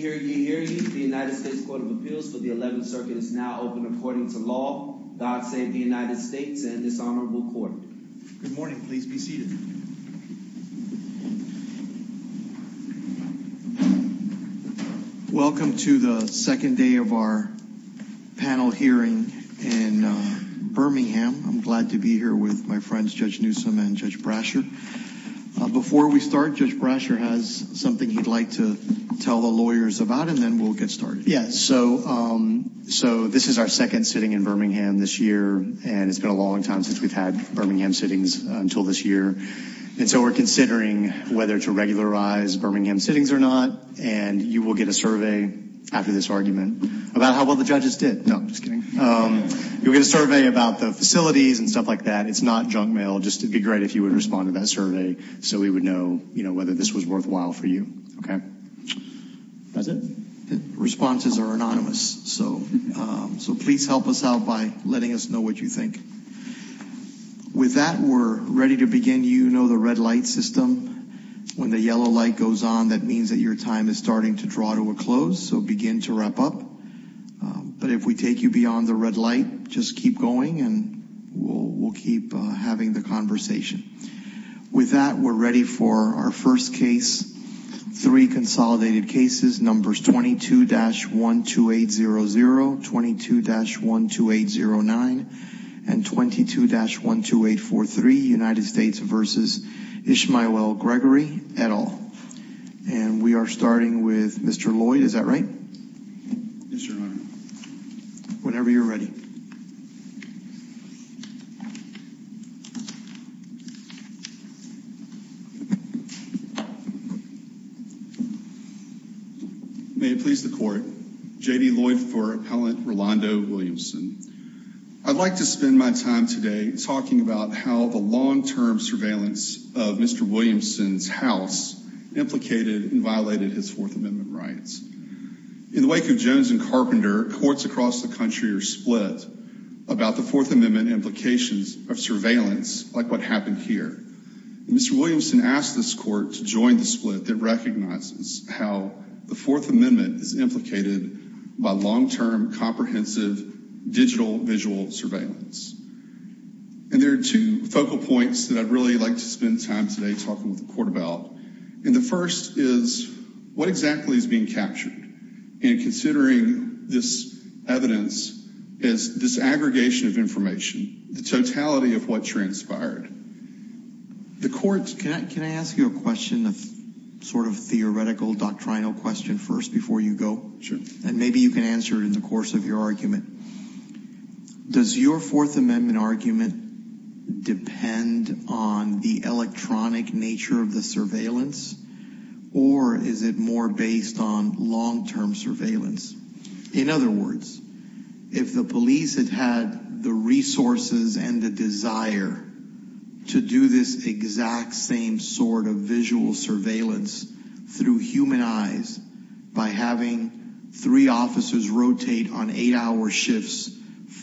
Gregory, the United States Court of Appeals for the 11th Circuit is now open according to law. God save the United States and this honorable court. Good morning, please be seated. Welcome to the second day of our panel hearing in Birmingham. I'm glad to be here with my friends, Judge Newsome and Judge Brasher. Before we start, Judge Brasher has something he'd like to tell the lawyers about and then we'll get started. Yes, so this is our second sitting in Birmingham this year and it's been a long time since we've had Birmingham sittings until this year. And so we're considering whether to regularize Birmingham sittings or not. And you will get a survey after this argument about how well the judges did. No, I'm just kidding. You'll get a survey about the facilities and stuff like that. It's not junk mail. Just be great if you would respond to that survey so we would know whether this was worthwhile for you. OK, that's it. Responses are anonymous. So so please help us out by letting us know what you think. With that, we're ready to begin. You know, the red light system when the yellow light goes on, that means that your time is starting to draw to a close. So begin to wrap up. But if we take you beyond the red light, just keep going and we'll we'll keep having the conversation with that. We're ready for our first case. Three consolidated cases. Numbers twenty two dash one two eight zero zero twenty two dash one two eight zero nine and twenty two dash one two eight four three United States versus Ishmael L. Gregory et al. And we are starting with Mr. Lloyd. Is that right? Whenever you're ready. May it please the court. J.D. Lloyd for Appellant Rolando Williamson. I'd like to spend my time today talking about how the long term surveillance of Mr. Williamson's house implicated and violated his Fourth Amendment rights. In the wake of Jones and Carpenter, courts across the country are split about the Fourth Amendment implications of surveillance like what happened here. Mr. Williamson asked this court to join the split that recognizes how the Fourth Amendment is implicated by long term comprehensive digital visual surveillance. And there are two focal points that I'd really like to spend time today talking with the court about. And the first is what exactly is being captured and considering this evidence is this aggregation of information, the totality of what transpired. The courts can ask you a question of sort of theoretical doctrinal question first before you go. And maybe you can answer it in the course of your argument. Does your Fourth Amendment argument depend on the electronic nature of the surveillance or is it more based on long term surveillance? In other words, if the police had had the resources and the desire to do this exact same sort of visual surveillance through human eyes by having three officers rotate on eight hour shifts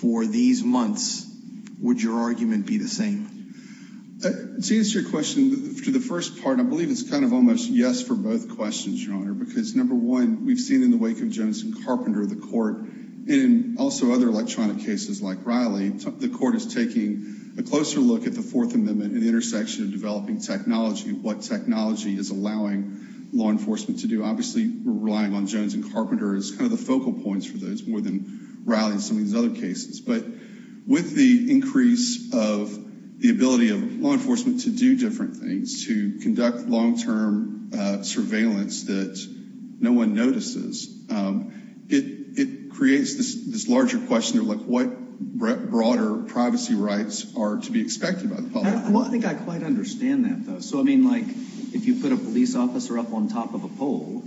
for these months, would your argument be the same? To answer your question, to the first part, I believe it's kind of almost yes for both questions, Your Honor, because number one, we've seen in the wake of Jones and Carpenter, the court and also other electronic cases like Riley, the court is taking a closer look at the Fourth Amendment and the intersection of developing technology, what technology is allowing law enforcement to do. Obviously, relying on Jones and Carpenter is kind of the focal points for those more than Riley and some of these other cases. But with the increase of the ability of law enforcement to do different things, to conduct long term surveillance that no one notices, it creates this larger question of what broader privacy rights are to be expected by the public. Well, I think I quite understand that, though. So, I mean, like if you put a police officer up on top of a pole,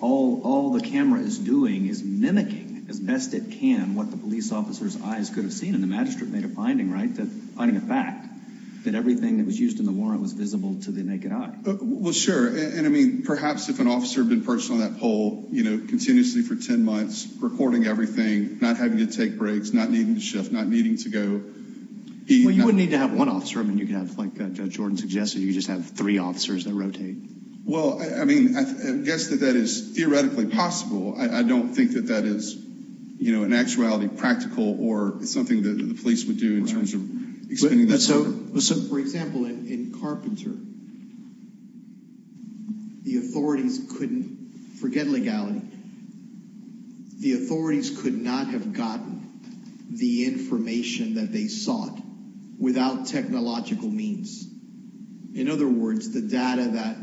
all the camera is doing is mimicking as best it can what the police officer's eyes could have seen. And the magistrate made a finding, right, that finding a fact that everything that was used in the warrant was visible to the naked eye. Well, sure. And I mean, perhaps if an officer had been perched on that pole, you know, continuously for 10 months, recording everything, not having to take breaks, not needing to shift, not needing to go. Well, you wouldn't need to have one officer. I mean, you can have like Judge Jordan suggested, you just have three officers that rotate. Well, I mean, I guess that that is theoretically possible. I don't think that that is, you know, an actuality, practical or something that the police would do in terms of explaining that. So, for example, in Carpenter, the authorities couldn't forget legality. The authorities could not have gotten the information that they sought without technological means. In other words, the data that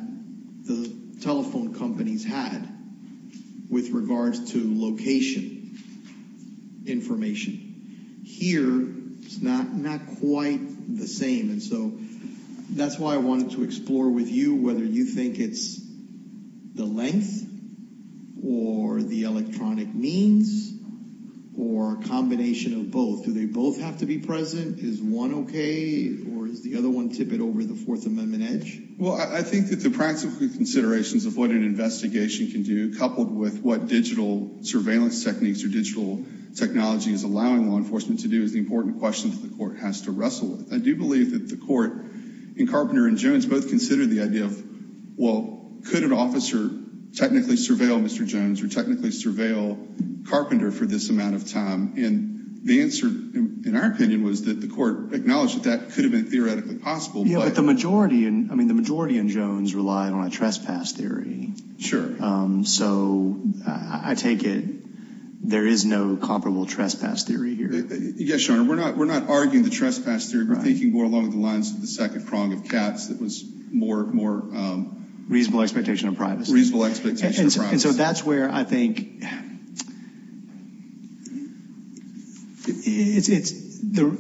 the telephone companies had with regards to location information here is not quite the same. And so that's why I wanted to explore with you whether you think it's the length or the electronic means or a combination of both. Do they both have to be present? Is one OK or is the other one tippet over the Fourth Amendment edge? Well, I think that the practical considerations of what an investigation can do, coupled with what digital surveillance techniques or digital technology is allowing law enforcement to do is the important question that the court has to wrestle with. I do believe that the court in Carpenter and Jones both consider the idea of, well, could an officer technically surveil Mr. Jones or technically surveil Carpenter for this amount of time? And the answer, in our opinion, was that the court acknowledged that that could have been theoretically possible. Yeah, but the majority, I mean, the majority in Jones relied on a trespass theory. So I take it there is no comparable trespass theory here. Yes, Your Honor. We're not arguing the trespass theory. We're thinking more along the lines of the second prong of Katz that was more, more. Reasonable expectation of privacy. Reasonable expectation of privacy. And so that's where I think it's the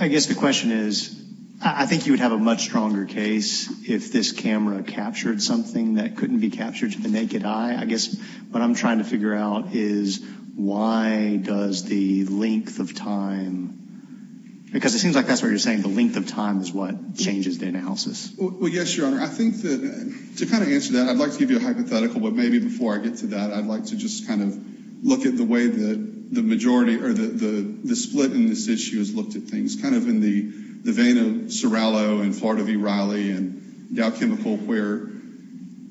I guess the question is, I think you would have a much stronger case if this camera captured something that couldn't be captured to the naked eye. I guess what I'm trying to figure out is why does the length of time, because it seems like that's what you're saying, the length of time is what changes the analysis. Well, yes, Your Honor, I think that to kind of answer that, I'd like to give you a hypothetical. But maybe before I get to that, I'd like to just kind of look at the way that the majority or the split in this issue has looked at things kind of in the vein of Serallo and Florida v. Riley and Dow Chemical, where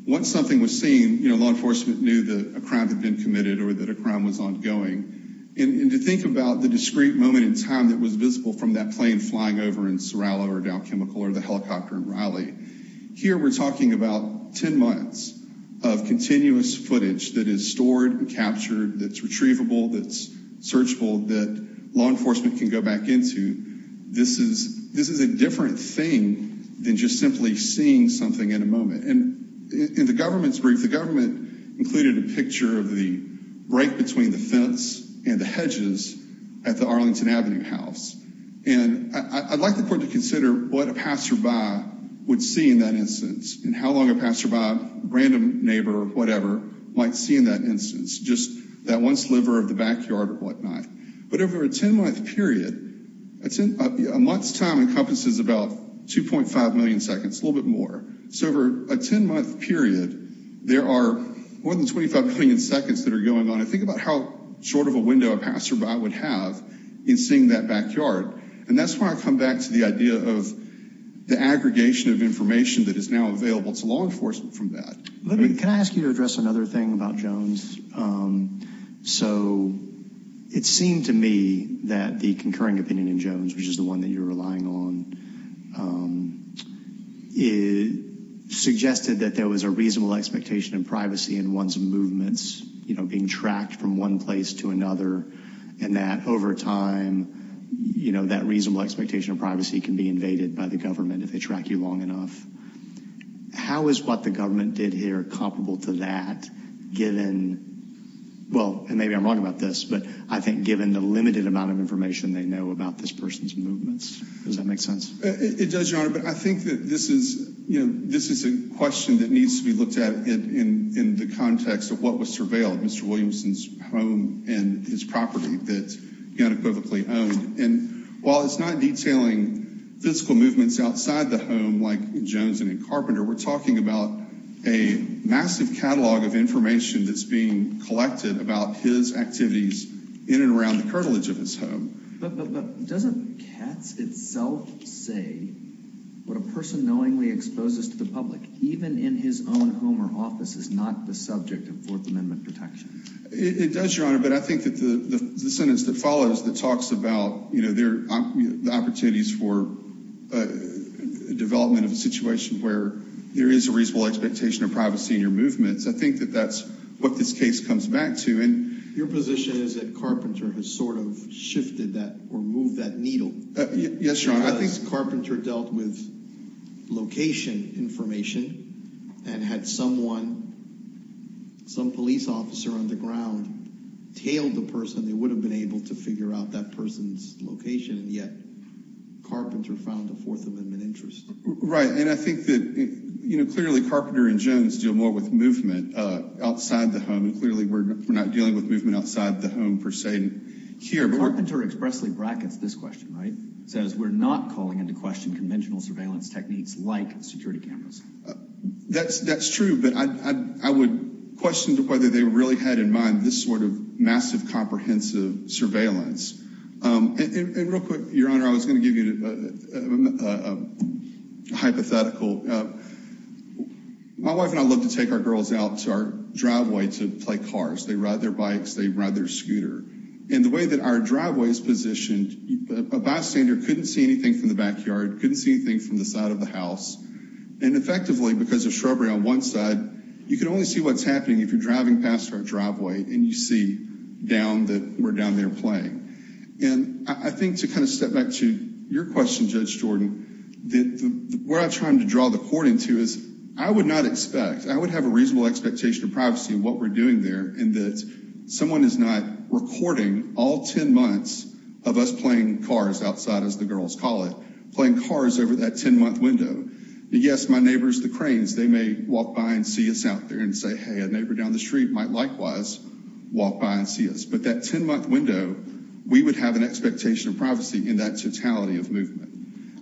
once something was seen, you know, law enforcement knew that a crime had been committed or that a crime was ongoing. And to think about the discrete moment in time that was visible from that plane flying over in Serallo or Dow Chemical or the helicopter in Riley, here we're talking about 10 months of continuous footage that is stored and captured, that's retrievable, that's searchable, that law enforcement can go back into. This is a different thing than just simply seeing something in a moment. And in the government's brief, the government included a picture of the break between the fence and the hedges at the Arlington Avenue house. And I'd like the court to consider what a passerby would see in that instance and how long a passerby, random neighbor or whatever, might see in that instance, just that one sliver of the backyard or whatnot. But over a 10-month period, a month's time encompasses about 2.5 million seconds, a little bit more. So over a 10-month period, there are more than 25 million seconds that are going on. And think about how short of a window a passerby would have in seeing that backyard. And that's why I come back to the idea of the aggregation of information that is now available to law enforcement from that. Can I ask you to address another thing about Jones? So it seemed to me that the concurring opinion in Jones, which is the one that you're relying on, suggested that there was a reasonable expectation of privacy in one's movements, you know, being tracked from one place to another, and that over time, you know, that reasonable expectation of privacy can be invaded by the government if they track you long enough. How is what the government did here comparable to that, given, well, and maybe I'm wrong about this, but I think given the limited amount of information they know about this person's movements? Does that make sense? It does, Your Honor, but I think that this is, you know, this is a question that needs to be looked at in the context of what was surveilled, Mr. Williamson's home and his property that he unequivocally owned. And while it's not detailing physical movements outside the home, like in Jones and in Carpenter, we're talking about a massive catalog of information that's being collected about his activities in and around the cartilage of his home. But doesn't Katz itself say what a person knowingly exposes to the public, even in his own home or office, is not the subject of Fourth Amendment protection? It does, Your Honor, but I think that the sentence that follows that talks about, you know, the opportunities for development of a situation where there is a reasonable expectation of privacy in your movements, I think that that's what this case comes back to. And your position is that Carpenter has sort of shifted that or moved that needle. Yes, Your Honor, I think Carpenter dealt with location information and had someone, some police officer on the ground, tailed the person, they would have been able to figure out that person's location, and yet Carpenter found a Fourth Amendment interest. Right, and I think that, you know, clearly Carpenter and Jones deal more with movement outside the home, and clearly we're not dealing with movement outside the home per se here. Carpenter expressly brackets this question, right? Says we're not calling into question conventional surveillance techniques like security cameras. That's true, but I would question whether they really had in mind this sort of massive comprehensive surveillance. And real quick, Your Honor, I was going to give you a hypothetical. My wife and I love to take our girls out to our driveway to play cars. They ride their bikes. They ride their scooter. And the way that our driveway is positioned, a bystander couldn't see anything from the backyard, couldn't see anything from the side of the house. And effectively, because of shrubbery on one side, you can only see what's happening if you're driving past our driveway and you see down that we're down there playing. And I think to kind of step back to your question, Judge Jordan, where I'm trying to draw the court into is I would not expect, I would have a reasonable expectation of privacy in what we're doing there, and that someone is not recording all 10 months of us playing cars outside, as the girls call it, playing cars over that 10-month window. Yes, my neighbors, the cranes, they may walk by and see us out there and say, hey, a neighbor down the street might likewise walk by and see us. But that 10-month window, we would have an expectation of privacy in that totality of movement.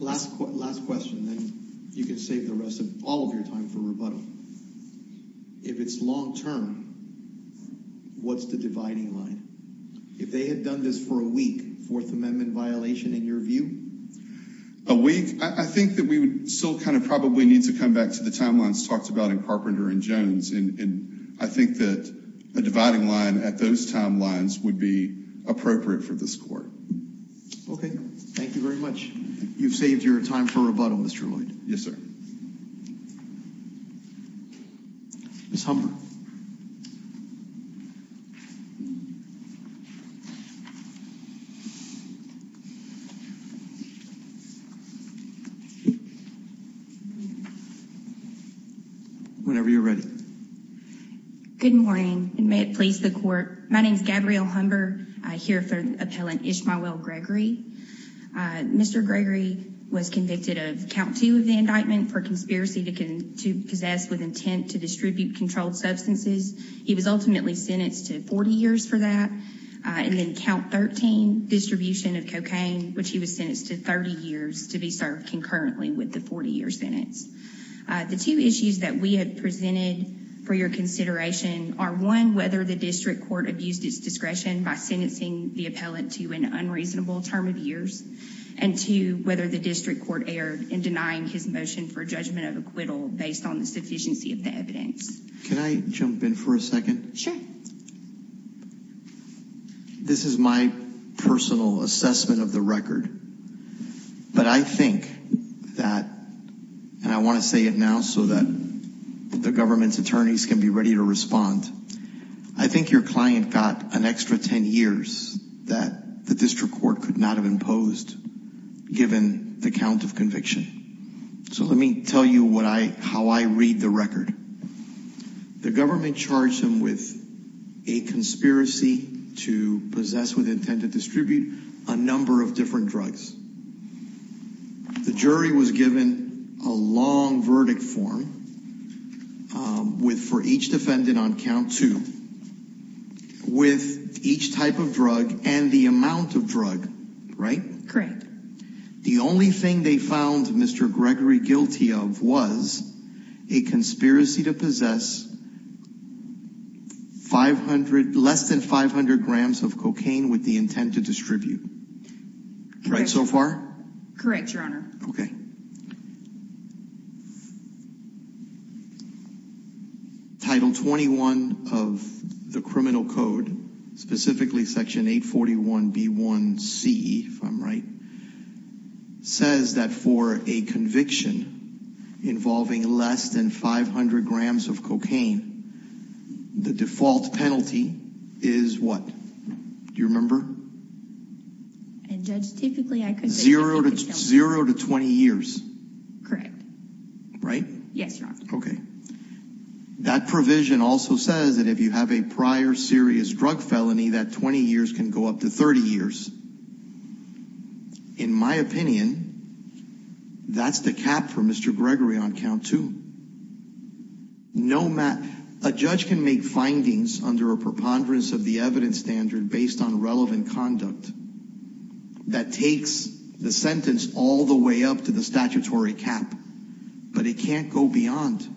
Last question, then you can save the rest of all of your time for rebuttal. If it's long term, what's the dividing line? If they had done this for a week, Fourth Amendment violation in your view? A week, I think that we would still kind of probably need to come back to the timelines talked about in Carpenter and Jones. And I think that a dividing line at those timelines would be appropriate for this court. Okay, thank you very much. You've saved your time for rebuttal, Mr. Lloyd. Yes, sir. Ms. Humber. Whenever you're ready. Good morning, and may it please the court. My name is Gabrielle Humber. I hear for Appellant Ishmael Gregory. Mr. Gregory was convicted of count two of the indictment for conspiracy to possess with intent to distribute controlled substances. He was ultimately sentenced to 40 years for that. And then count 13, distribution of cocaine, which he was sentenced to 30 years to be served concurrently with the 40-year sentence. The two issues that we had presented for your consideration are one, whether the district court abused its discretion by sentencing the appellant to an unreasonable term of years. And two, whether the district court erred in denying his motion for judgment of acquittal based on the sufficiency of the evidence. Can I jump in for a second? Sure. This is my personal assessment of the record. But I think that, and I want to say it now so that the government's attorneys can be ready to respond. I think your client got an extra 10 years that the district court could not have imposed given the count of conviction. So let me tell you what I how I read the record. The government charged him with a conspiracy to possess with intent to distribute a number of different drugs. The jury was given a long verdict form with for each defendant on count two with each type of drug and the amount of drug, right? Correct. The only thing they found Mr. Gregory guilty of was a conspiracy to possess 500, less than 500 grams of cocaine with the intent to distribute. Right so far? Correct, Your Honor. Okay. Title 21 of the criminal code, specifically Section 841B1C, if I'm right, says that for a conviction involving less than 500 grams of cocaine, the default penalty is what? Do you remember? And Judge, typically I could say- Zero to 20 years. Correct. Right? Yes, Your Honor. Okay. That provision also says that if you have a prior serious drug felony, that 20 years can go up to 30 years. In my opinion, that's the cap for Mr. Gregory on count two. A judge can make findings under a preponderance of the evidence standard based on relevant conduct that takes the sentence all the way up to the statutory cap, but it can't go beyond.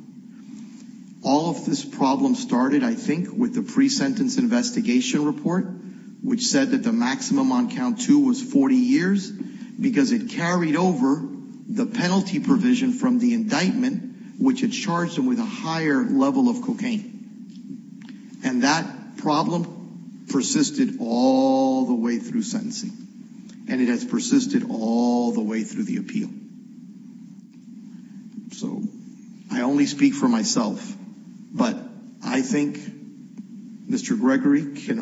All of this problem started, I think, with the pre-sentence investigation report, which said that the maximum on count two was 40 years, because it carried over the penalty provision from the indictment, which had charged him with a higher level of cocaine. And that problem persisted all the way through sentencing. And it has persisted all the way through the appeal. So I only speak for myself, but I think Mr. Gregory could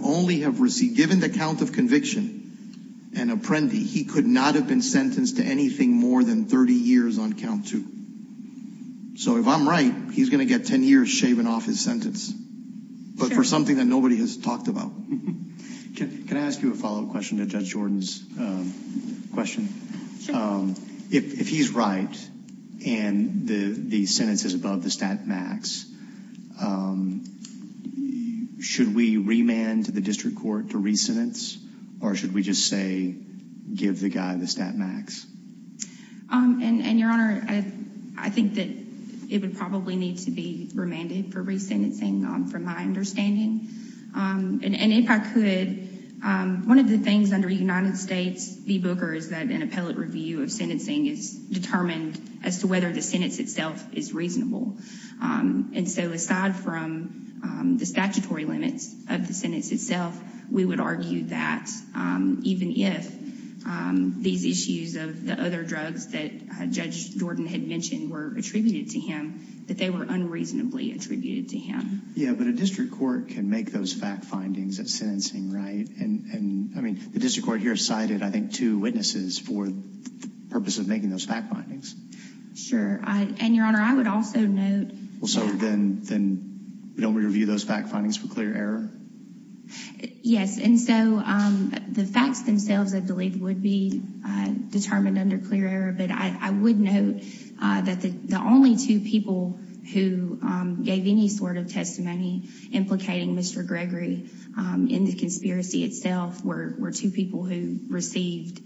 only have received, given the count of conviction and Apprendi, he could not have been sentenced to anything more than 30 years on count two. So if I'm right, he's going to get 10 years shaven off his sentence, but for something that nobody has talked about. Can I ask you a follow-up question to Judge Jordan's question? Sure. If he's right and the sentence is above the stat max, should we remand to the district court to re-sentence, or should we just say, give the guy the stat max? And, Your Honor, I think that it would probably need to be remanded for re-sentencing, from my understanding. And if I could, one of the things under United States v. Booker is that an appellate review of sentencing is determined as to whether the sentence itself is reasonable. And so aside from the statutory limits of the sentence itself, we would argue that even if these issues of the other drugs that Judge Jordan had mentioned were attributed to him, that they were unreasonably attributed to him. Yeah, but a district court can make those fact findings at sentencing, right? And, I mean, the district court here cited, I think, two witnesses for the purpose of making those fact findings. Sure. And, Your Honor, I would also note... Well, so then we don't review those fact findings for clear error? Yes, and so the facts themselves, I believe, would be determined under clear error. But I would note that the only two people who gave any sort of testimony implicating Mr. Gregory in the conspiracy itself were two people who received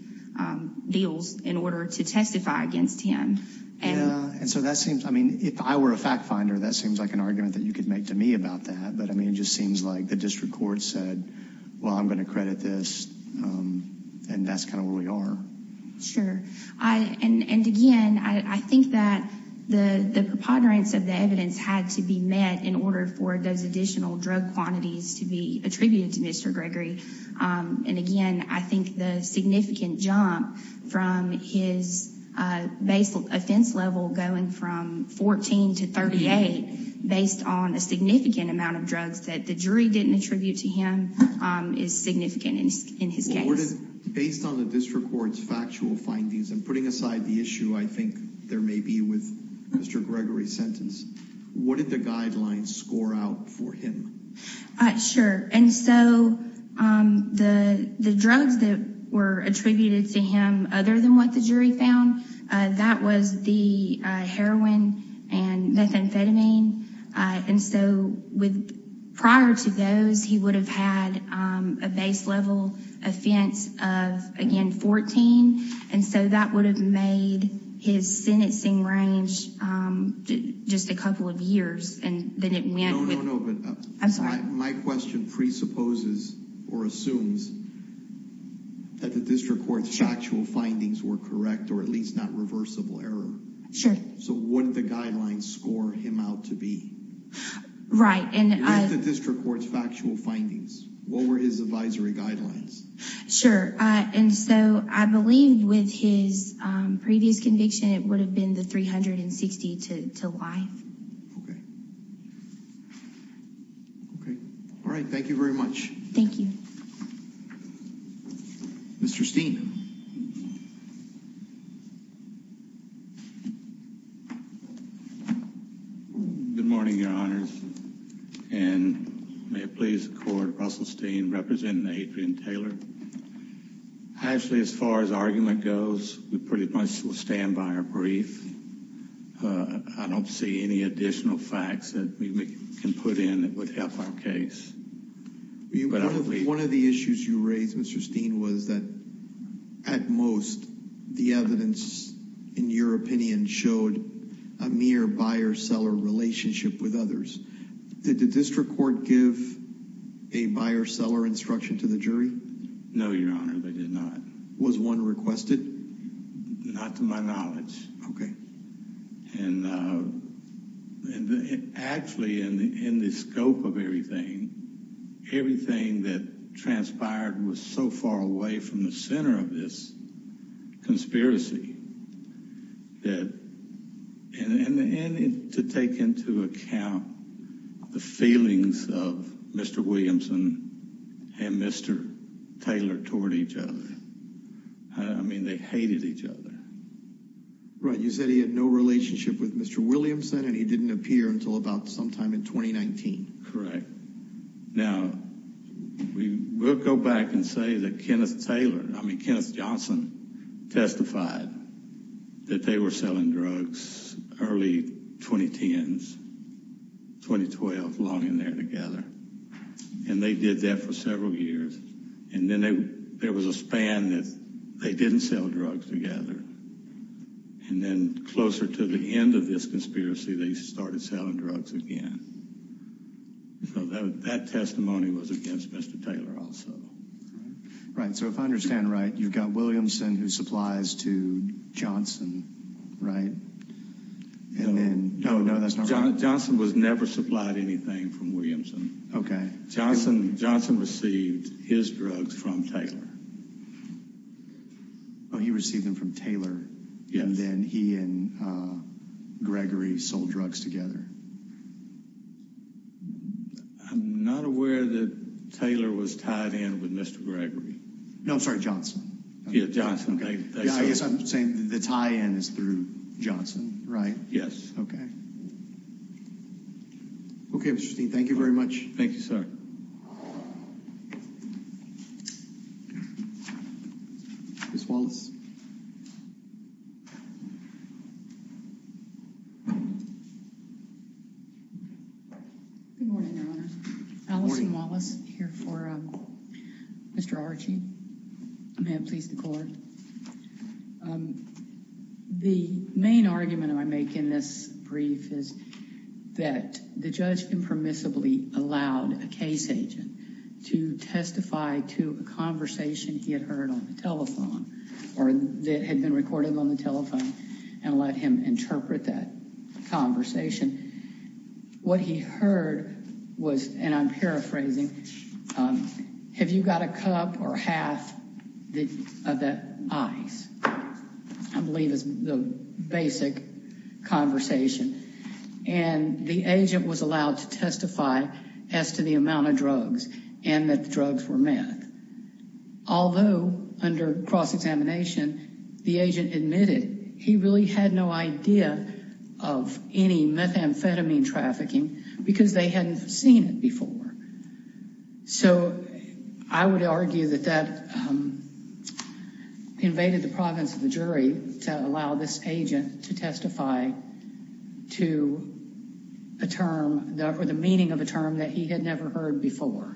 deals in order to testify against him. Yeah, and so that seems, I mean, if I were a fact finder, that seems like an argument that you could make to me about that. But, I mean, it just seems like the district court said, well, I'm going to credit this, and that's kind of where we are. And, again, I think that the preponderance of the evidence had to be met in order for those additional drug quantities to be attributed to Mr. Gregory. And, again, I think the significant jump from his base offense level going from 14 to 38, based on a significant amount of drugs that the jury didn't attribute to him, is significant in his case. Based on the district court's factual findings, and putting aside the issue I think there may be with Mr. Gregory's sentence, what did the guidelines score out for him? Sure, and so the drugs that were attributed to him, other than what the jury found, that was the heroin and methamphetamine. And so, prior to those, he would have had a base level offense of, again, 14. And so that would have made his sentencing range just a couple of years. No, no, no, but my question presupposes or assumes that the district court's factual findings were correct, or at least not reversible error. So what did the guidelines score him out to be? Right. What were the district court's factual findings? What were his advisory guidelines? Sure, and so I believe with his previous conviction it would have been the 360 to life. Okay. Okay, all right, thank you very much. Thank you. Mr. Steen. Good morning, your honors, and may it please the court, Russell Steen, representing Adrian Taylor. Actually, as far as argument goes, we pretty much will stand by our brief. I don't see any additional facts that we can put in that would help our case. One of the issues you raised, Mr. Steen, was that at most the evidence, in your opinion, showed a mere buyer-seller relationship with others. Did the district court give a buyer-seller instruction to the jury? No, your honor, they did not. Was one requested? Not to my knowledge. Okay. And actually, in the scope of everything, everything that transpired was so far away from the center of this conspiracy. And to take into account the feelings of Mr. Williamson and Mr. Taylor toward each other. I mean, they hated each other. Right. You said he had no relationship with Mr. Williamson and he didn't appear until about sometime in 2019. Correct. Now, we'll go back and say that Kenneth Taylor, I mean, Kenneth Johnson, testified that they were selling drugs early 2010s, 2012, long in there together. And they did that for several years. And then there was a span that they didn't sell drugs together. And then closer to the end of this conspiracy, they started selling drugs again. So that testimony was against Mr. Taylor also. Right, so if I understand right, you've got Williamson who supplies to Johnson, right? No, no, that's not right. Johnson was never supplied anything from Williamson. Okay. Johnson received his drugs from Taylor. Oh, he received them from Taylor. Yes. And then he and Gregory sold drugs together. I'm not aware that Taylor was tied in with Mr. Gregory. No, I'm sorry, Johnson. Yeah, Johnson. I guess I'm saying the tie-in is through Johnson, right? Yes. Okay. Okay, Mr. Steen, thank you very much. Thank you, sir. Ms. Wallace. Good morning, Your Honor. Allison Wallace here for Mr. Archie. May it please the Court. The main argument I make in this brief is that the judge impermissibly allowed a case agent to testify to a conversation he had heard on the telephone or that had been recorded on the telephone and let him interpret that conversation. What he heard was, and I'm paraphrasing, have you got a cup or half of that ice, I believe is the basic conversation. And the agent was allowed to testify as to the amount of drugs and that the drugs were meth. Although, under cross-examination, the agent admitted he really had no idea of any methamphetamine trafficking because they hadn't seen it before. So I would argue that that invaded the province of the jury to allow this agent to testify to a term or the meaning of a term that he had never heard before.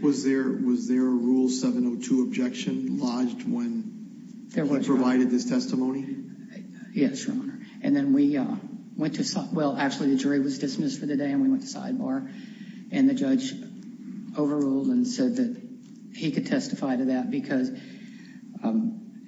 Was there a Rule 702 objection lodged when he provided this testimony? Yes, Your Honor. And then we went to, well actually the jury was dismissed for the day and we went to sidebar and the judge overruled and said that he could testify to that because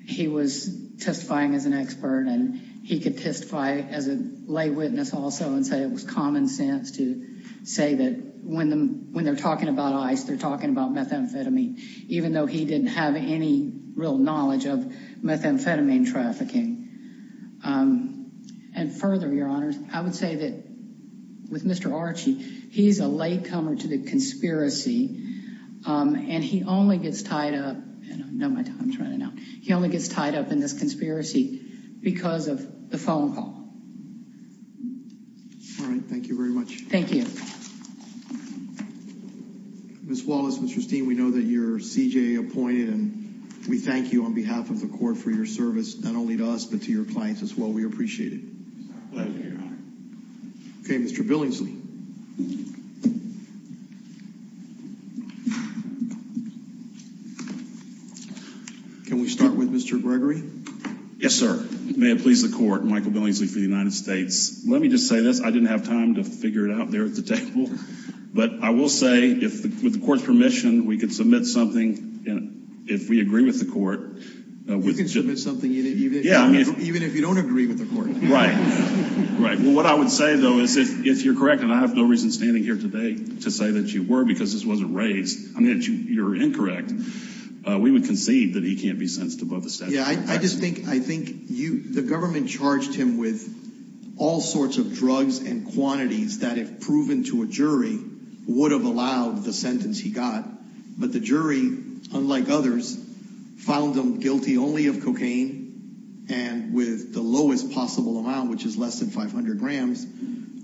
he was testifying as an expert and he could testify as a lay witness also and say it was common sense to say that when they're talking about ice, they're talking about methamphetamine, even though he didn't have any real knowledge of methamphetamine trafficking. And further, Your Honor, I would say that with Mr. Archie, he's a latecomer to the conspiracy and he only gets tied up in this conspiracy because of the phone call. All right, thank you very much. Thank you. Ms. Wallace, Mr. Steen, we know that you're CJA appointed and we thank you on behalf of the court for your service, not only to us, but to your clients as well. We appreciate it. Pleasure, Your Honor. Okay, Mr. Billingsley. Can we start with Mr. Gregory? Yes, sir. May it please the court, Michael Billingsley for the United States. Let me just say this. I didn't have time to figure it out there at the table, but I will say with the court's permission, we can submit something if we agree with the court. You can submit something even if you don't agree with the court. Right, right. Well, what I would say, though, is if you're correct, and I have no reason standing here today to say that you were because this wasn't raised, I mean, you're incorrect. We would concede that he can't be sentenced above the statute. Yeah, I just think the government charged him with all sorts of drugs and quantities that, if proven to a jury, would have allowed the sentence he got. But the jury, unlike others, found him guilty only of cocaine and with the lowest possible amount, which is less than 500 grams,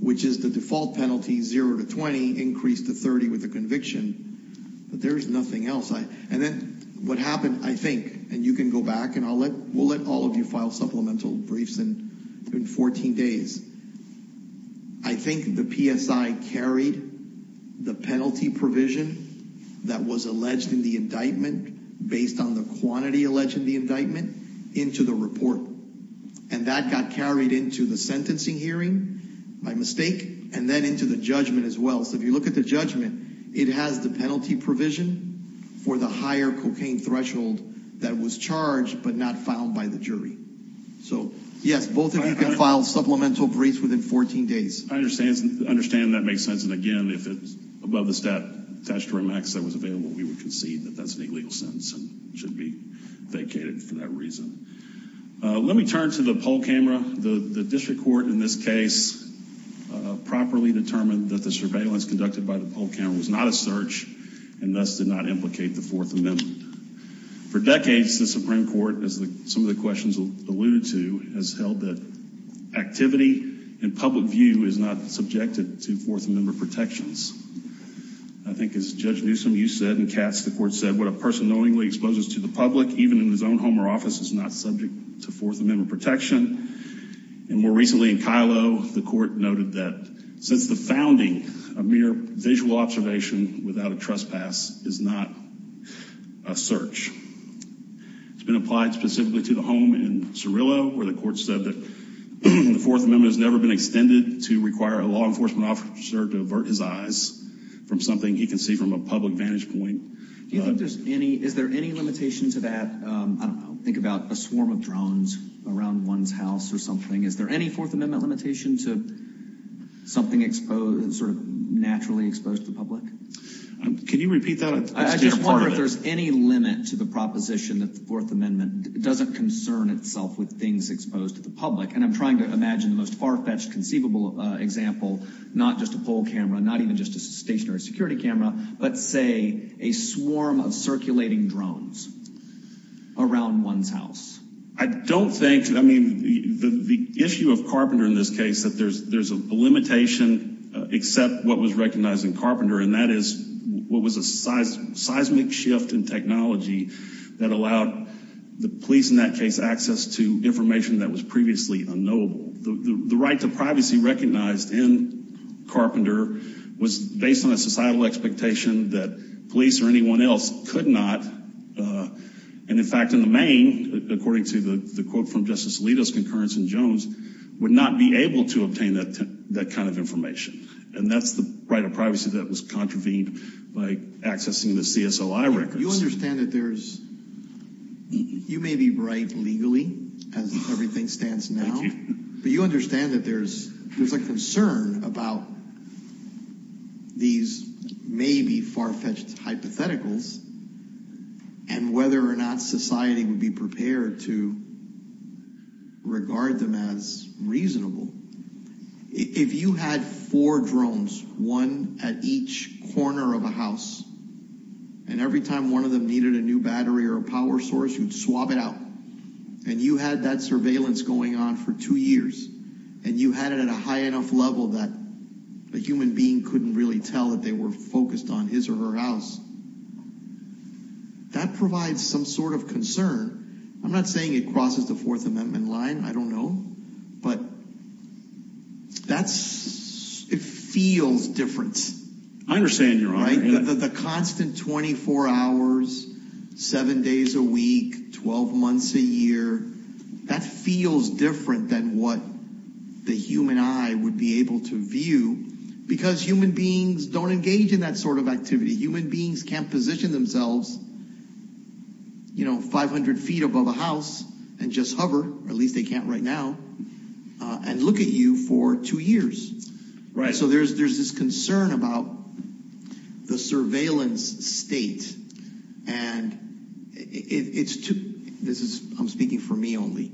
which is the default penalty, 0 to 20, increased to 30 with the conviction. But there is nothing else. And then what happened, I think, and you can go back and we'll let all of you file supplemental briefs in 14 days. I think the PSI carried the penalty provision that was alleged in the indictment based on the quantity alleged in the indictment into the report. And that got carried into the sentencing hearing by mistake and then into the judgment as well. So if you look at the judgment, it has the penalty provision for the higher cocaine threshold that was charged but not filed by the jury. So, yes, both of you can file supplemental briefs within 14 days. I understand that makes sense. And, again, if it's above the statute that was available, we would concede that that's an illegal sentence and should be vacated for that reason. Let me turn to the poll camera. The district court in this case properly determined that the surveillance conducted by the poll camera was not a search and thus did not implicate the Fourth Amendment. For decades, the Supreme Court, as some of the questions alluded to, has held that activity in public view is not subjected to Fourth Amendment protections. I think, as Judge Newsom, you said, and Katz, the court said, what a person knowingly exposes to the public, even in his own home or office, is not subject to Fourth Amendment protection. And more recently in Kylo, the court noted that since the founding, a mere visual observation without a trespass is not a search. It's been applied specifically to the home in Cirillo where the court said that the Fourth Amendment has never been extended to require a law enforcement officer to avert his eyes from something he can see from a public vantage point. Do you think there's any, is there any limitation to that? Think about a swarm of drones around one's house or something. Is there any Fourth Amendment limitation to something exposed, sort of naturally exposed to the public? Can you repeat that? I just wonder if there's any limit to the proposition that the Fourth Amendment doesn't concern itself with things exposed to the public. And I'm trying to imagine the most far-fetched conceivable example, not just a poll camera, not even just a stationary security camera, but say a swarm of circulating drones around one's house. I don't think, I mean, the issue of Carpenter in this case, that there's a limitation except what was recognized in Carpenter, and that is what was a seismic shift in technology that allowed the police in that case access to information that was previously unknowable. The right to privacy recognized in Carpenter was based on a societal expectation that police or anyone else could not, and in fact in the main, according to the quote from Justice Alito's concurrence in Jones, would not be able to obtain that kind of information. And that's the right of privacy that was contravened by accessing the CSOI records. But you understand that there's, you may be right legally as everything stands now, but you understand that there's a concern about these maybe far-fetched hypotheticals and whether or not society would be prepared to regard them as reasonable. If you had four drones, one at each corner of a house, and every time one of them needed a new battery or a power source, you'd swab it out. And you had that surveillance going on for two years, and you had it at a high enough level that a human being couldn't really tell that they were focused on his or her house. That provides some sort of concern. I'm not saying it crosses the Fourth Amendment line. I don't know. But that's, it feels different. I understand your argument. The constant 24 hours, seven days a week, 12 months a year, that feels different than what the human eye would be able to view. Because human beings don't engage in that sort of activity. Human beings can't position themselves, you know, 500 feet above a house and just hover, or at least they can't right now, and look at you for two years. Right. So there's this concern about the surveillance state, and it's too, this is, I'm speaking for me only,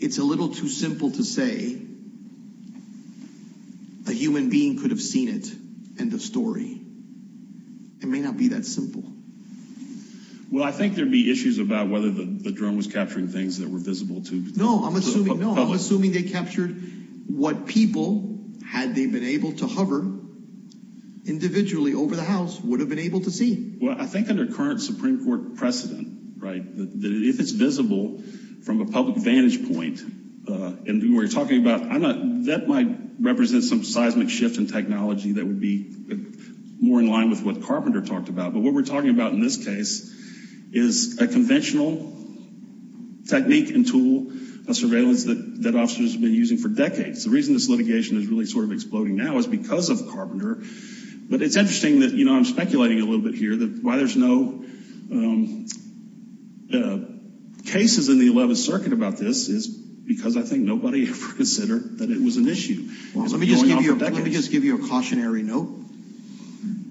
it's a little too simple to say a human being could have seen it in the story. It may not be that simple. Well, I think there'd be issues about whether the drone was capturing things that were visible to the public. No, assuming they captured what people, had they been able to hover individually over the house, would have been able to see. Well, I think under current Supreme Court precedent, right, that if it's visible from a public vantage point, and we're talking about, that might represent some seismic shift in technology that would be more in line with what Carpenter talked about. But what we're talking about in this case is a conventional technique and tool of surveillance that officers have been using for decades. The reason this litigation is really sort of exploding now is because of Carpenter. But it's interesting that, you know, I'm speculating a little bit here that why there's no cases in the 11th Circuit about this is because I think nobody ever considered that it was an issue. Let me just give you a cautionary note.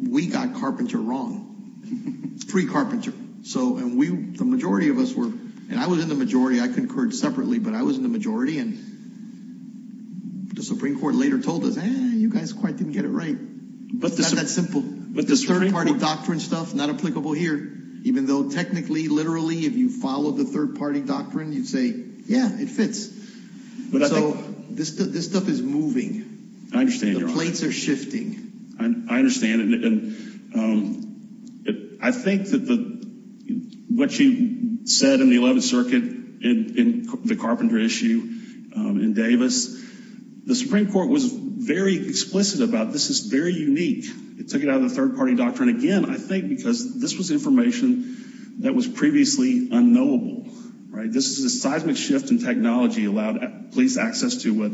We got Carpenter wrong. Free Carpenter. So, and we, the majority of us were, and I was in the majority, I concurred separately, but I was in the majority, and the Supreme Court later told us, eh, you guys quite didn't get it right. It's not that simple. The third party doctrine stuff, not applicable here, even though technically, literally, if you follow the third party doctrine, you'd say, yeah, it fits. So, this stuff is moving. I understand. The plates are shifting. I understand. I think that what you said in the 11th Circuit in the Carpenter issue in Davis, the Supreme Court was very explicit about this is very unique. It took it out of the third party doctrine again, I think, because this was information that was previously unknowable. Right? This is a seismic shift in technology allowed police access to what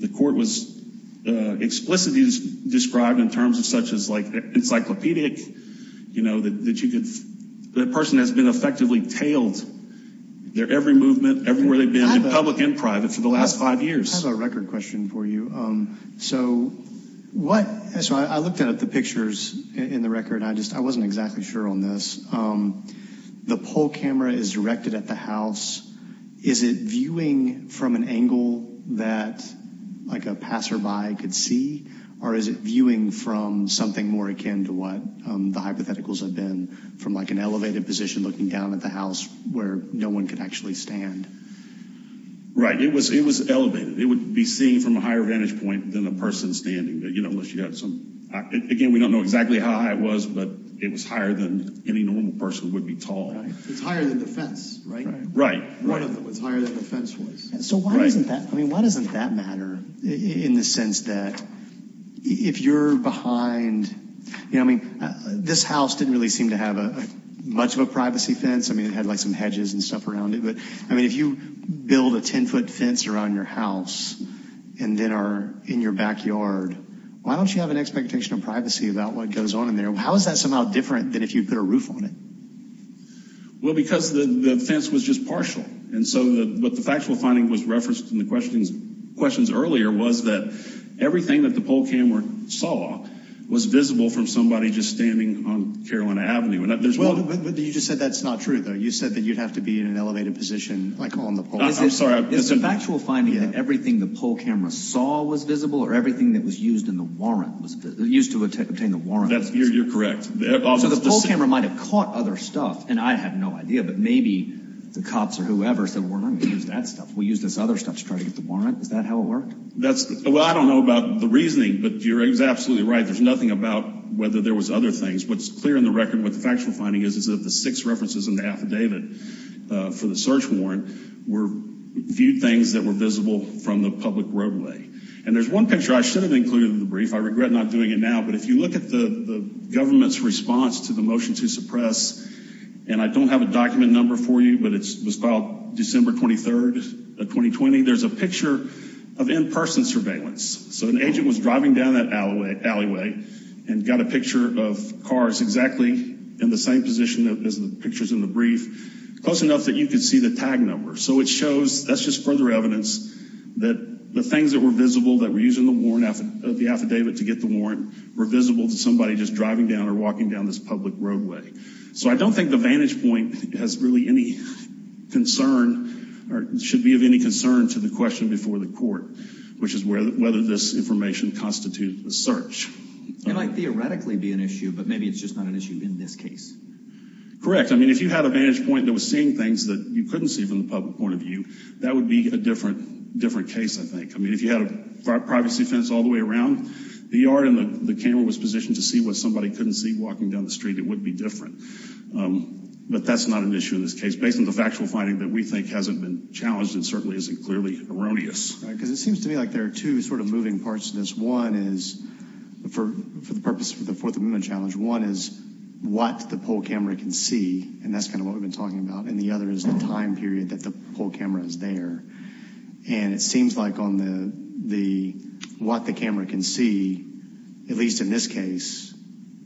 the court was explicitly described in terms of such as like encyclopedic, you know, that you could, that person has been effectively tailed their every movement, everywhere they've been, in public and private, for the last five years. I have a record question for you. So, what, so I looked at the pictures in the record, and I just, I wasn't exactly sure on this. The poll camera is directed at the house. Is it viewing from an angle that like a passerby could see? Or is it viewing from something more akin to what the hypotheticals have been from like an elevated position looking down at the house where no one could actually stand? Right. It was elevated. It would be seen from a higher vantage point than a person standing. Again, we don't know exactly how high it was, but it was higher than any normal person would be tall. It's higher than the fence, right? Right. It's higher than the fence was. So why doesn't that, I mean, why doesn't that matter in the sense that if you're behind, you know, I mean, this house didn't really seem to have much of a privacy fence. I mean, it had like some hedges and stuff around it. But, I mean, if you build a 10-foot fence around your house and then are in your backyard, why don't you have an expectation of privacy about what goes on in there? How is that somehow different than if you put a roof on it? Well, because the fence was just partial. And so what the factual finding was referenced in the questions earlier was that everything that the poll camera saw was visible from somebody just standing on Carolina Avenue. Well, but you just said that's not true, though. You said that you'd have to be in an elevated position, like on the polls. I'm sorry. Is the factual finding that everything the poll camera saw was visible or everything that was used in the warrant, used to obtain the warrant was visible? You're correct. So the poll camera might have caught other stuff, and I had no idea, but maybe the cops or whoever said we're not going to use that stuff. We'll use this other stuff to try to get the warrant. Is that how it worked? Well, I don't know about the reasoning, but you're absolutely right. There's nothing about whether there was other things. What's clear in the record, what the factual finding is, is that the six references in the affidavit for the search warrant were viewed things that were visible from the public roadway. And there's one picture I should have included in the brief. I regret not doing it now, but if you look at the government's response to the motion to suppress, and I don't have a document number for you, but it was filed December 23rd of 2020. There's a picture of in-person surveillance. So an agent was driving down that alleyway and got a picture of cars exactly in the same position as the pictures in the brief, close enough that you could see the tag number. So it shows that's just further evidence that the things that were visible that were used in the affidavit to get the warrant were visible to somebody just driving down or walking down this public roadway. So I don't think the vantage point has really any concern or should be of any concern to the question before the court, which is whether this information constitutes a search. It might theoretically be an issue, but maybe it's just not an issue in this case. Correct. I mean, if you had a vantage point that was seeing things that you couldn't see from the public point of view, that would be a different case, I think. I mean, if you had a privacy fence all the way around the yard and the camera was positioned to see what somebody couldn't see walking down the street, it would be different. But that's not an issue in this case, based on the factual finding that we think hasn't been challenged and certainly isn't clearly erroneous. Right, because it seems to me like there are two sort of moving parts to this. One is for the purpose of the Fourth Amendment challenge. One is what the poll camera can see, and that's kind of what we've been talking about. And the other is the time period that the poll camera is there. And it seems like on the what the camera can see, at least in this case,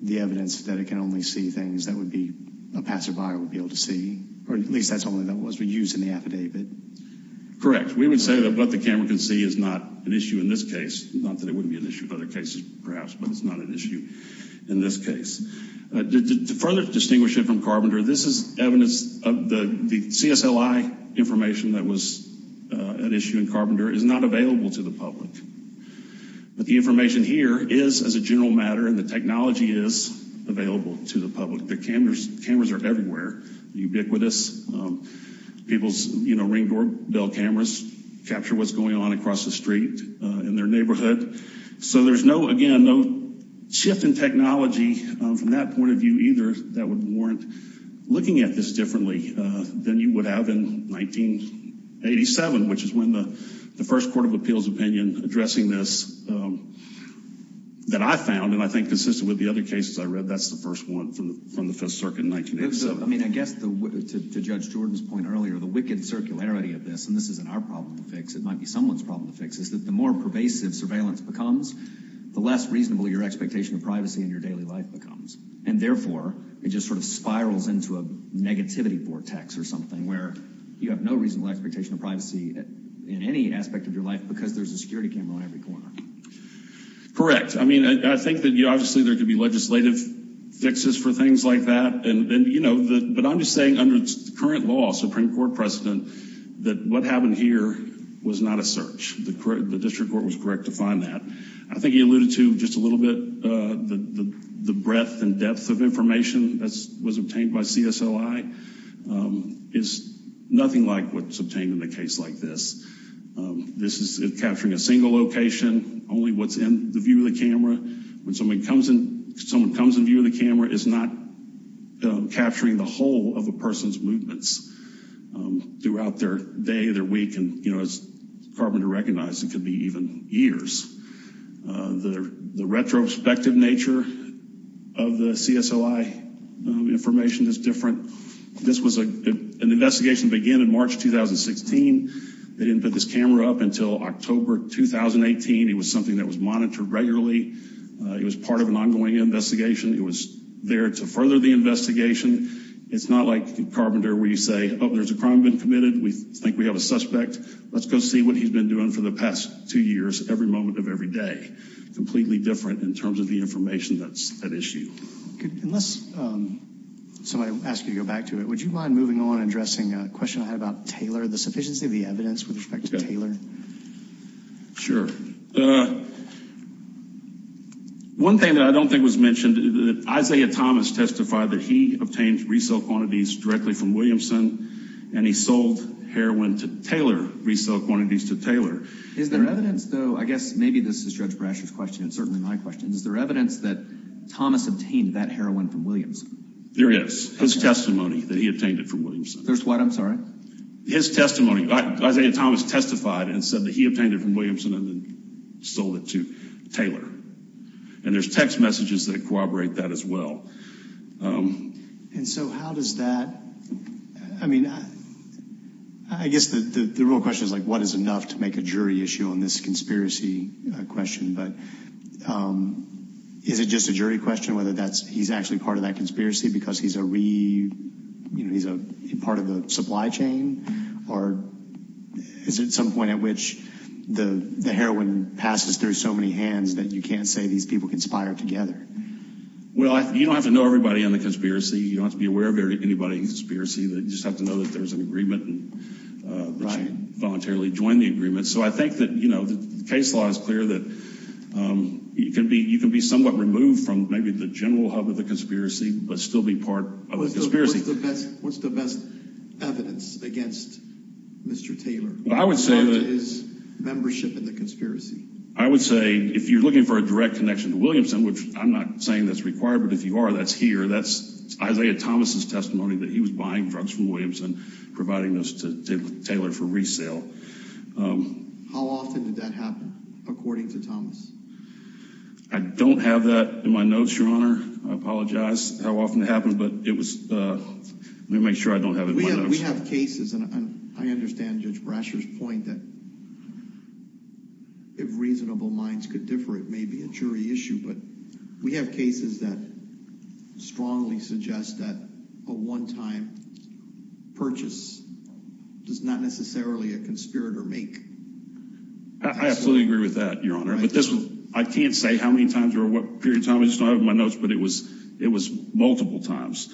the evidence that it can only see things that would be a passerby would be able to see. Or at least that's only what was used in the affidavit. Correct. We would say that what the camera can see is not an issue in this case. Not that it wouldn't be an issue in other cases, perhaps, but it's not an issue in this case. To further distinguish it from Carpenter, this is evidence of the CSLI information that was at issue in Carpenter is not available to the public. But the information here is, as a general matter, and the technology is available to the public. The cameras are everywhere, ubiquitous. People's, you know, ring doorbell cameras capture what's going on across the street in their neighborhood. So there's no, again, no shift in technology from that point of view either that would warrant looking at this differently than you would have in 1987, which is when the first Court of Appeals opinion addressing this that I found, and I think consistent with the other cases I read, that's the first one from the Fifth Circuit in 1987. I mean, I guess to Judge Jordan's point earlier, the wicked circularity of this, and this isn't our problem to fix. It might be someone's problem to fix, is that the more pervasive surveillance becomes, the less reasonable your expectation of privacy in your daily life becomes. And therefore, it just sort of spirals into a negativity vortex or something where you have no reasonable expectation of privacy in any aspect of your life because there's a security camera on every corner. Correct. I mean, I think that obviously there could be legislative fixes for things like that. But I'm just saying under current law, Supreme Court precedent, that what happened here was not a search. The district court was correct to find that. I think he alluded to just a little bit the breadth and depth of information that was obtained by CSLI. It's nothing like what's obtained in a case like this. This is capturing a single location, only what's in the view of the camera. When someone comes in view of the camera, it's not capturing the whole of a person's movements throughout their day, their week. And it's hard to recognize. It could be even years. The retrospective nature of the CSLI information is different. This was an investigation that began in March 2016. They didn't put this camera up until October 2018. It was something that was monitored regularly. It was part of an ongoing investigation. It was there to further the investigation. It's not like Carpenter where you say, oh, there's a crime been committed. We think we have a suspect. Let's go see what he's been doing for the past two years every moment of every day. Completely different in terms of the information that's at issue. Unless somebody asks you to go back to it, would you mind moving on and addressing a question I had about Taylor, the sufficiency of the evidence with respect to Taylor? Sure. One thing that I don't think was mentioned, Isaiah Thomas testified that he obtained resale quantities directly from Williamson, and he sold heroin to Taylor, resale quantities to Taylor. Is there evidence, though, I guess maybe this is Judge Brasher's question and certainly my question, is there evidence that Thomas obtained that heroin from Williamson? There is. His testimony that he obtained it from Williamson. There's what, I'm sorry? His testimony. Isaiah Thomas testified and said that he obtained it from Williamson and then sold it to Taylor. And there's text messages that corroborate that as well. And so how does that, I mean, I guess the real question is like, what is enough to make a jury issue on this conspiracy question? But is it just a jury question whether he's actually part of that conspiracy because he's a part of the supply chain? Or is it some point at which the heroin passes through so many hands that you can't say these people conspired together? Well, you don't have to know everybody on the conspiracy. You don't have to be aware of anybody on the conspiracy. You just have to know that there's an agreement and that you voluntarily joined the agreement. So I think that, you know, the case law is clear that you can be somewhat removed from maybe the general hub of the conspiracy but still be part of the conspiracy. What's the best evidence against Mr. Taylor? Well, I would say that. Part of his membership in the conspiracy. I would say if you're looking for a direct connection to Williamson, which I'm not saying that's required, but if you are, that's here. That's Isaiah Thomas' testimony that he was buying drugs from Williamson, providing those to Taylor for resale. How often did that happen, according to Thomas? I don't have that in my notes, Your Honor. I apologize how often it happened, but it was – let me make sure I don't have it in my notes. We have cases, and I understand Judge Brasher's point that if reasonable minds could differ, it may be a jury issue. But we have cases that strongly suggest that a one-time purchase does not necessarily a conspirator make. I absolutely agree with that, Your Honor. But this – I can't say how many times or what period of time. I just don't have it in my notes, but it was multiple times.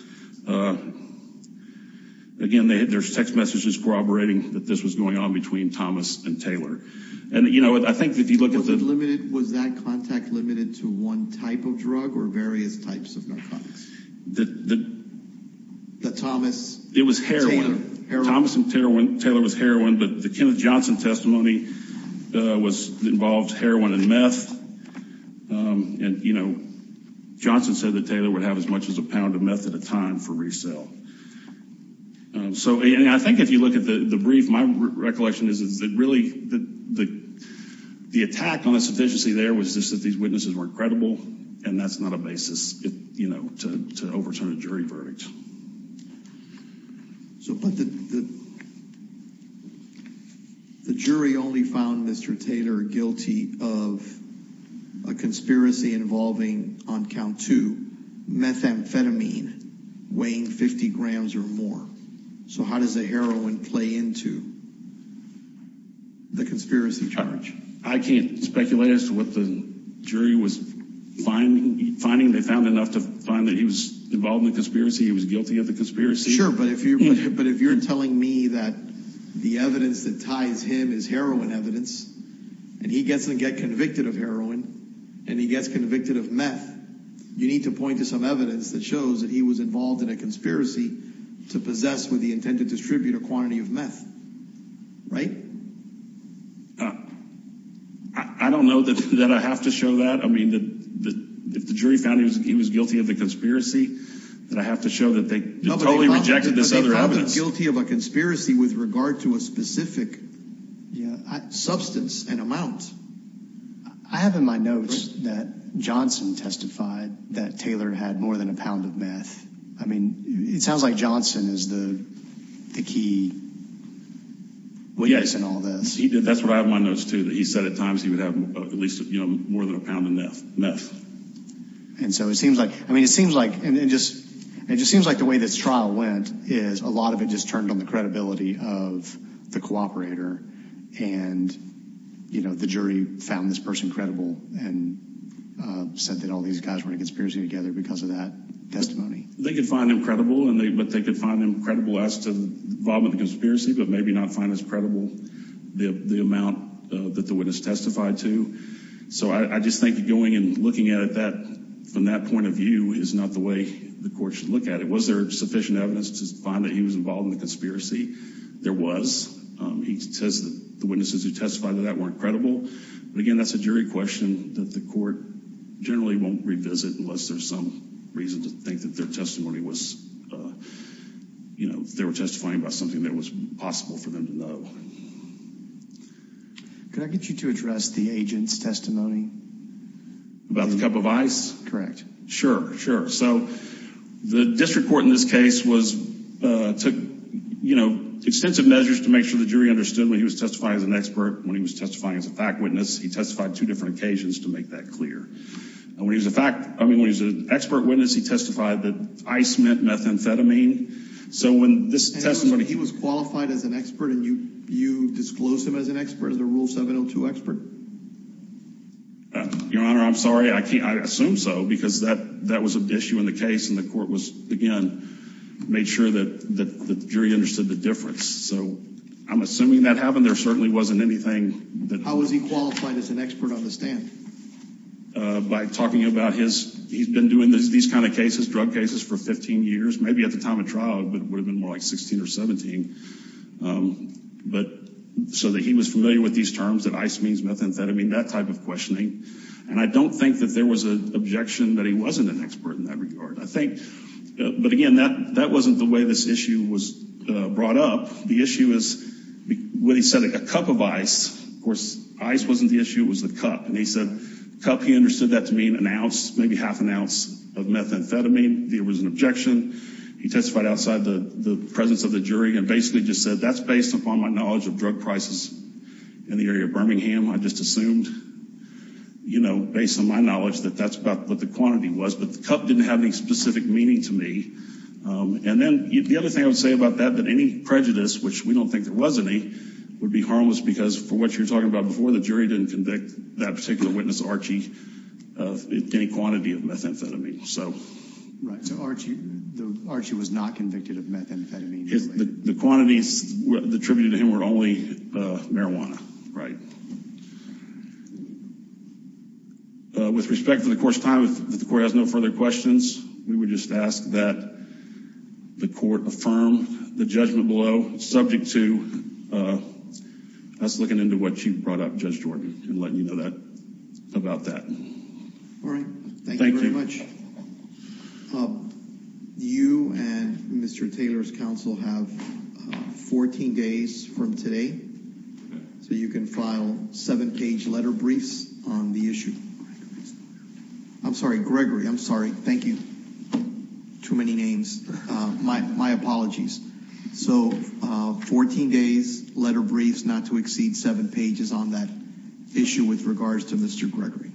Again, there's text messages corroborating that this was going on between Thomas and Taylor. And, you know, I think if you look at the – Was that contact limited to one type of drug or various types of narcotics? The Thomas – It was heroin. Thomas and Taylor was heroin, but the Kenneth Johnson testimony involved heroin and meth. And, you know, Johnson said that Taylor would have as much as a pound of meth at a time for resale. So I think if you look at the brief, my recollection is that really the attack on a sufficiency there was just that these witnesses weren't credible, and that's not a basis, you know, to overturn a jury verdict. But the jury only found Mr. Taylor guilty of a conspiracy involving, on count two, methamphetamine weighing 50 grams or more. So how does the heroin play into the conspiracy charge? I can't speculate as to what the jury was finding. They found enough to find that he was involved in the conspiracy. He was guilty of the conspiracy. Sure, but if you're telling me that the evidence that ties him is heroin evidence, and he gets to get convicted of heroin, and he gets convicted of meth, you need to point to some evidence that shows that he was involved in a conspiracy to possess with the intent to distribute a quantity of meth, right? I don't know that I have to show that. I mean, if the jury found he was guilty of the conspiracy, then I have to show that they totally rejected this other evidence. But they found him guilty of a conspiracy with regard to a specific substance and amount. I have in my notes that Johnson testified that Taylor had more than a pound of meth. I mean, it sounds like Johnson is the key witness in all this. That's what I have in my notes, too, that he said at times he would have at least more than a pound of meth. And so it seems like the way this trial went is a lot of it just turned on the credibility of the cooperator, and the jury found this person credible and said that all these guys were in a conspiracy together because of that testimony. They could find him credible, but they could find him credible as to involvement in the conspiracy, but maybe not find as credible the amount that the witness testified to. So I just think going and looking at it from that point of view is not the way the court should look at it. Was there sufficient evidence to find that he was involved in the conspiracy? There was. He says that the witnesses who testified to that weren't credible. But, again, that's a jury question that the court generally won't revisit unless there's some reason to think that their testimony was, you know, they were testifying about something that was possible for them to know. Could I get you to address the agent's testimony? About the cup of ice? Correct. Sure, sure. So the district court in this case took, you know, extensive measures to make sure the jury understood when he was testifying as an expert, when he was testifying as a fact witness, he testified two different occasions to make that clear. And when he was an expert witness, he testified that ice meant methamphetamine. So when this testimony— And he was qualified as an expert, and you disclosed him as an expert, as a Rule 702 expert? Your Honor, I'm sorry. I can't—I assume so, because that was an issue in the case, and the court was, again, made sure that the jury understood the difference. So I'm assuming that happened. There certainly wasn't anything that— How was he qualified as an expert on the stand? By talking about his—he's been doing these kind of cases, drug cases, for 15 years, maybe at the time of trial, but it would have been more like 16 or 17. But—so that he was familiar with these terms, that ice means methamphetamine, that type of questioning. And I don't think that there was an objection that he wasn't an expert in that regard. I think—but again, that wasn't the way this issue was brought up. The issue is, when he said a cup of ice, of course, ice wasn't the issue, it was the cup. And he said cup, he understood that to mean an ounce, maybe half an ounce of methamphetamine. There was an objection. He testified outside the presence of the jury and basically just said, that's based upon my knowledge of drug prices in the area of Birmingham. I just assumed, you know, based on my knowledge, that that's about what the quantity was. But the cup didn't have any specific meaning to me. And then the other thing I would say about that, that any prejudice, which we don't think there was any, would be harmless because, for what you're talking about before, the jury didn't convict that particular witness, Archie, of any quantity of methamphetamine. Right, so Archie was not convicted of methamphetamine. The quantities attributed to him were only marijuana, right. With respect to the Court's time, if the Court has no further questions, we would just ask that the Court affirm the judgment below, subject to us looking into what you brought up, Judge Jordan, and letting you know about that. All right, thank you very much. You and Mr. Taylor's counsel have 14 days from today, so you can file seven-page letter briefs on the issue. I'm sorry, Gregory, I'm sorry, thank you. Too many names. My apologies. So, 14 days, letter briefs, not to exceed seven pages on that issue with regards to Mr. Gregory.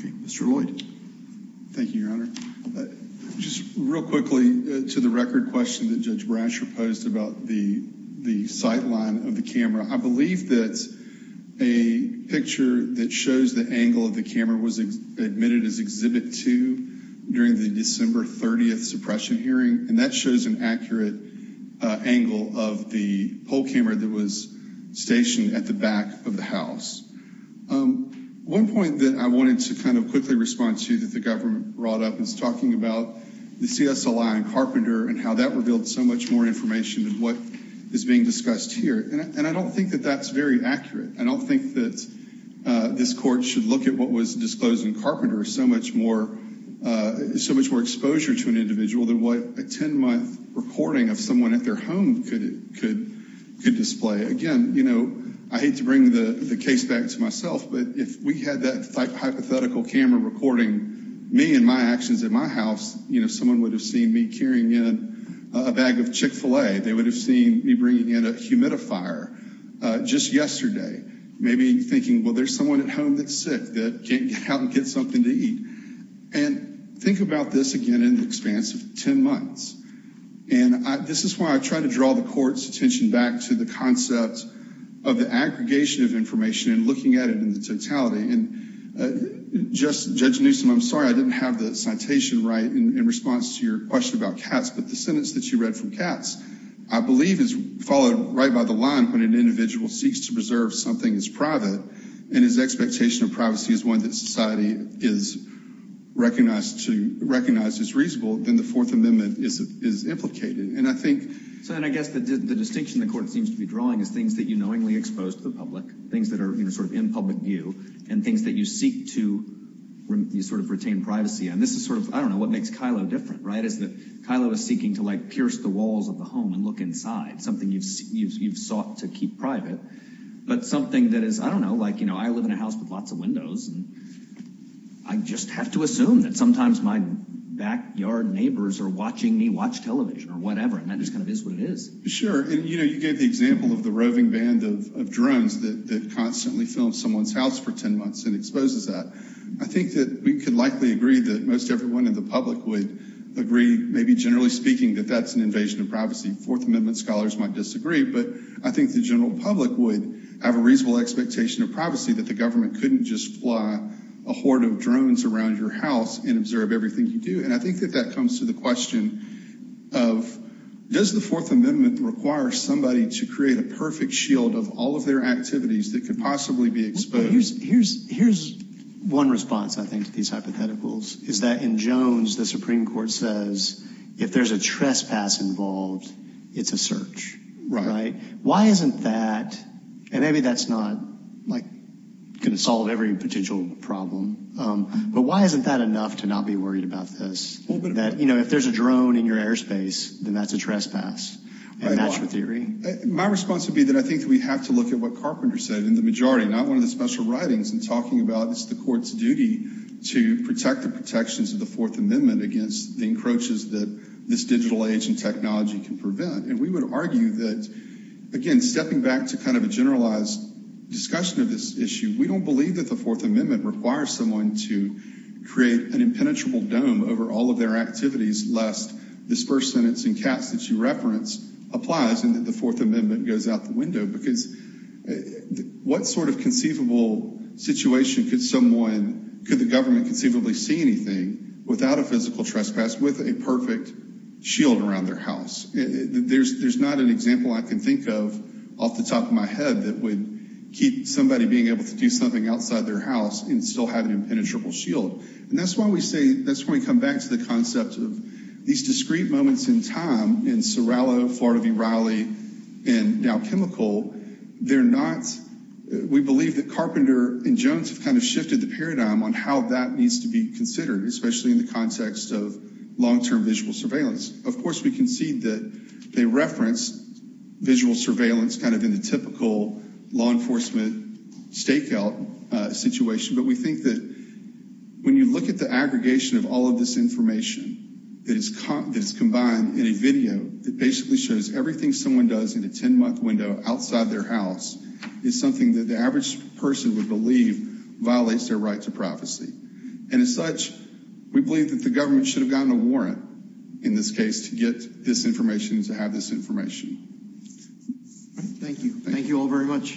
Okay, Mr. Lloyd. Thank you, Your Honor. Just real quickly, to the record question that Judge Brasher posed about the sight line of the camera, I believe that a picture that shows the angle of the camera was admitted as Exhibit 2 during the December 30th suppression hearing, and that shows an accurate angle of the poll camera that was stationed at the back of the house. One point that I wanted to kind of quickly respond to that the government brought up is talking about the CSLI and Carpenter and how that revealed so much more information than what is being discussed here. And I don't think that that's very accurate. I don't think that this Court should look at what was disclosed in Carpenter, so much more exposure to an individual than what a 10-month recording of someone at their home could display. Again, you know, I hate to bring the case back to myself, but if we had that hypothetical camera recording me and my actions at my house, you know, someone would have seen me carrying in a bag of Chick-fil-A. They would have seen me bringing in a humidifier just yesterday, maybe thinking, well, there's someone at home that's sick that can't help them get something to eat. And think about this again in the expanse of 10 months. And this is why I try to draw the Court's attention back to the concept of the aggregation of information and looking at it in the totality. And, Judge Newsom, I'm sorry I didn't have the citation right in response to your question about cats, but the sentence that you read from cats I believe is followed right by the line when an individual seeks to preserve something that's private and his expectation of privacy is one that society is recognized as reasonable, then the Fourth Amendment is implicated. And I think – So then I guess the distinction the Court seems to be drawing is things that you knowingly expose to the public, things that are sort of in public view, and things that you seek to sort of retain privacy. And this is sort of, I don't know, what makes Kylo different, right? Is that Kylo is seeking to like pierce the walls of the home and look inside, something you've sought to keep private. But something that is, I don't know, like, you know, I live in a house with lots of windows. And I just have to assume that sometimes my backyard neighbors are watching me watch television or whatever. And that just kind of is what it is. Sure. And, you know, you gave the example of the roving band of drones that constantly films someone's house for 10 months and exposes that. I think that we could likely agree that most everyone in the public would agree, maybe generally speaking, that that's an invasion of privacy. Fourth Amendment scholars might disagree. But I think the general public would have a reasonable expectation of privacy that the government couldn't just fly a horde of drones around your house and observe everything you do. And I think that that comes to the question of does the Fourth Amendment require somebody to create a perfect shield of all of their activities that could possibly be exposed? So here's one response, I think, to these hypotheticals, is that in Jones, the Supreme Court says if there's a trespass involved, it's a search. Why isn't that, and maybe that's not, like, going to solve every potential problem, but why isn't that enough to not be worried about this? That, you know, if there's a drone in your airspace, then that's a trespass in natural theory. My response would be that I think we have to look at what Carpenter said in the majority, not one of the special writings, in talking about it's the court's duty to protect the protections of the Fourth Amendment against the encroaches that this digital age and technology can prevent. And we would argue that, again, stepping back to kind of a generalized discussion of this issue, we don't believe that the Fourth Amendment requires someone to create an impenetrable dome over all of their activities, lest this first sentence in Katz that you reference applies and that the Fourth Amendment goes out the window. Because what sort of conceivable situation could someone, could the government conceivably see anything without a physical trespass with a perfect shield around their house? There's not an example I can think of off the top of my head that would keep somebody being able to do something outside their house and still have an impenetrable shield. And that's why we say, that's when we come back to the concept of these discrete moments in time in Sorrello, Florida v. Raleigh, and now Chemical, they're not, we believe that Carpenter and Jones have kind of shifted the paradigm on how that needs to be considered, especially in the context of long-term visual surveillance. Of course, we concede that they reference visual surveillance kind of in the typical law enforcement stakeout situation, but we think that when you look at the aggregation of all of this information that is combined in a video that basically shows everything someone does in a 10-month window outside their house is something that the average person would believe violates their right to prophecy. And as such, we believe that the government should have gotten a warrant in this case to get this information and to have this information. Thank you. Thank you all very much. Thank you.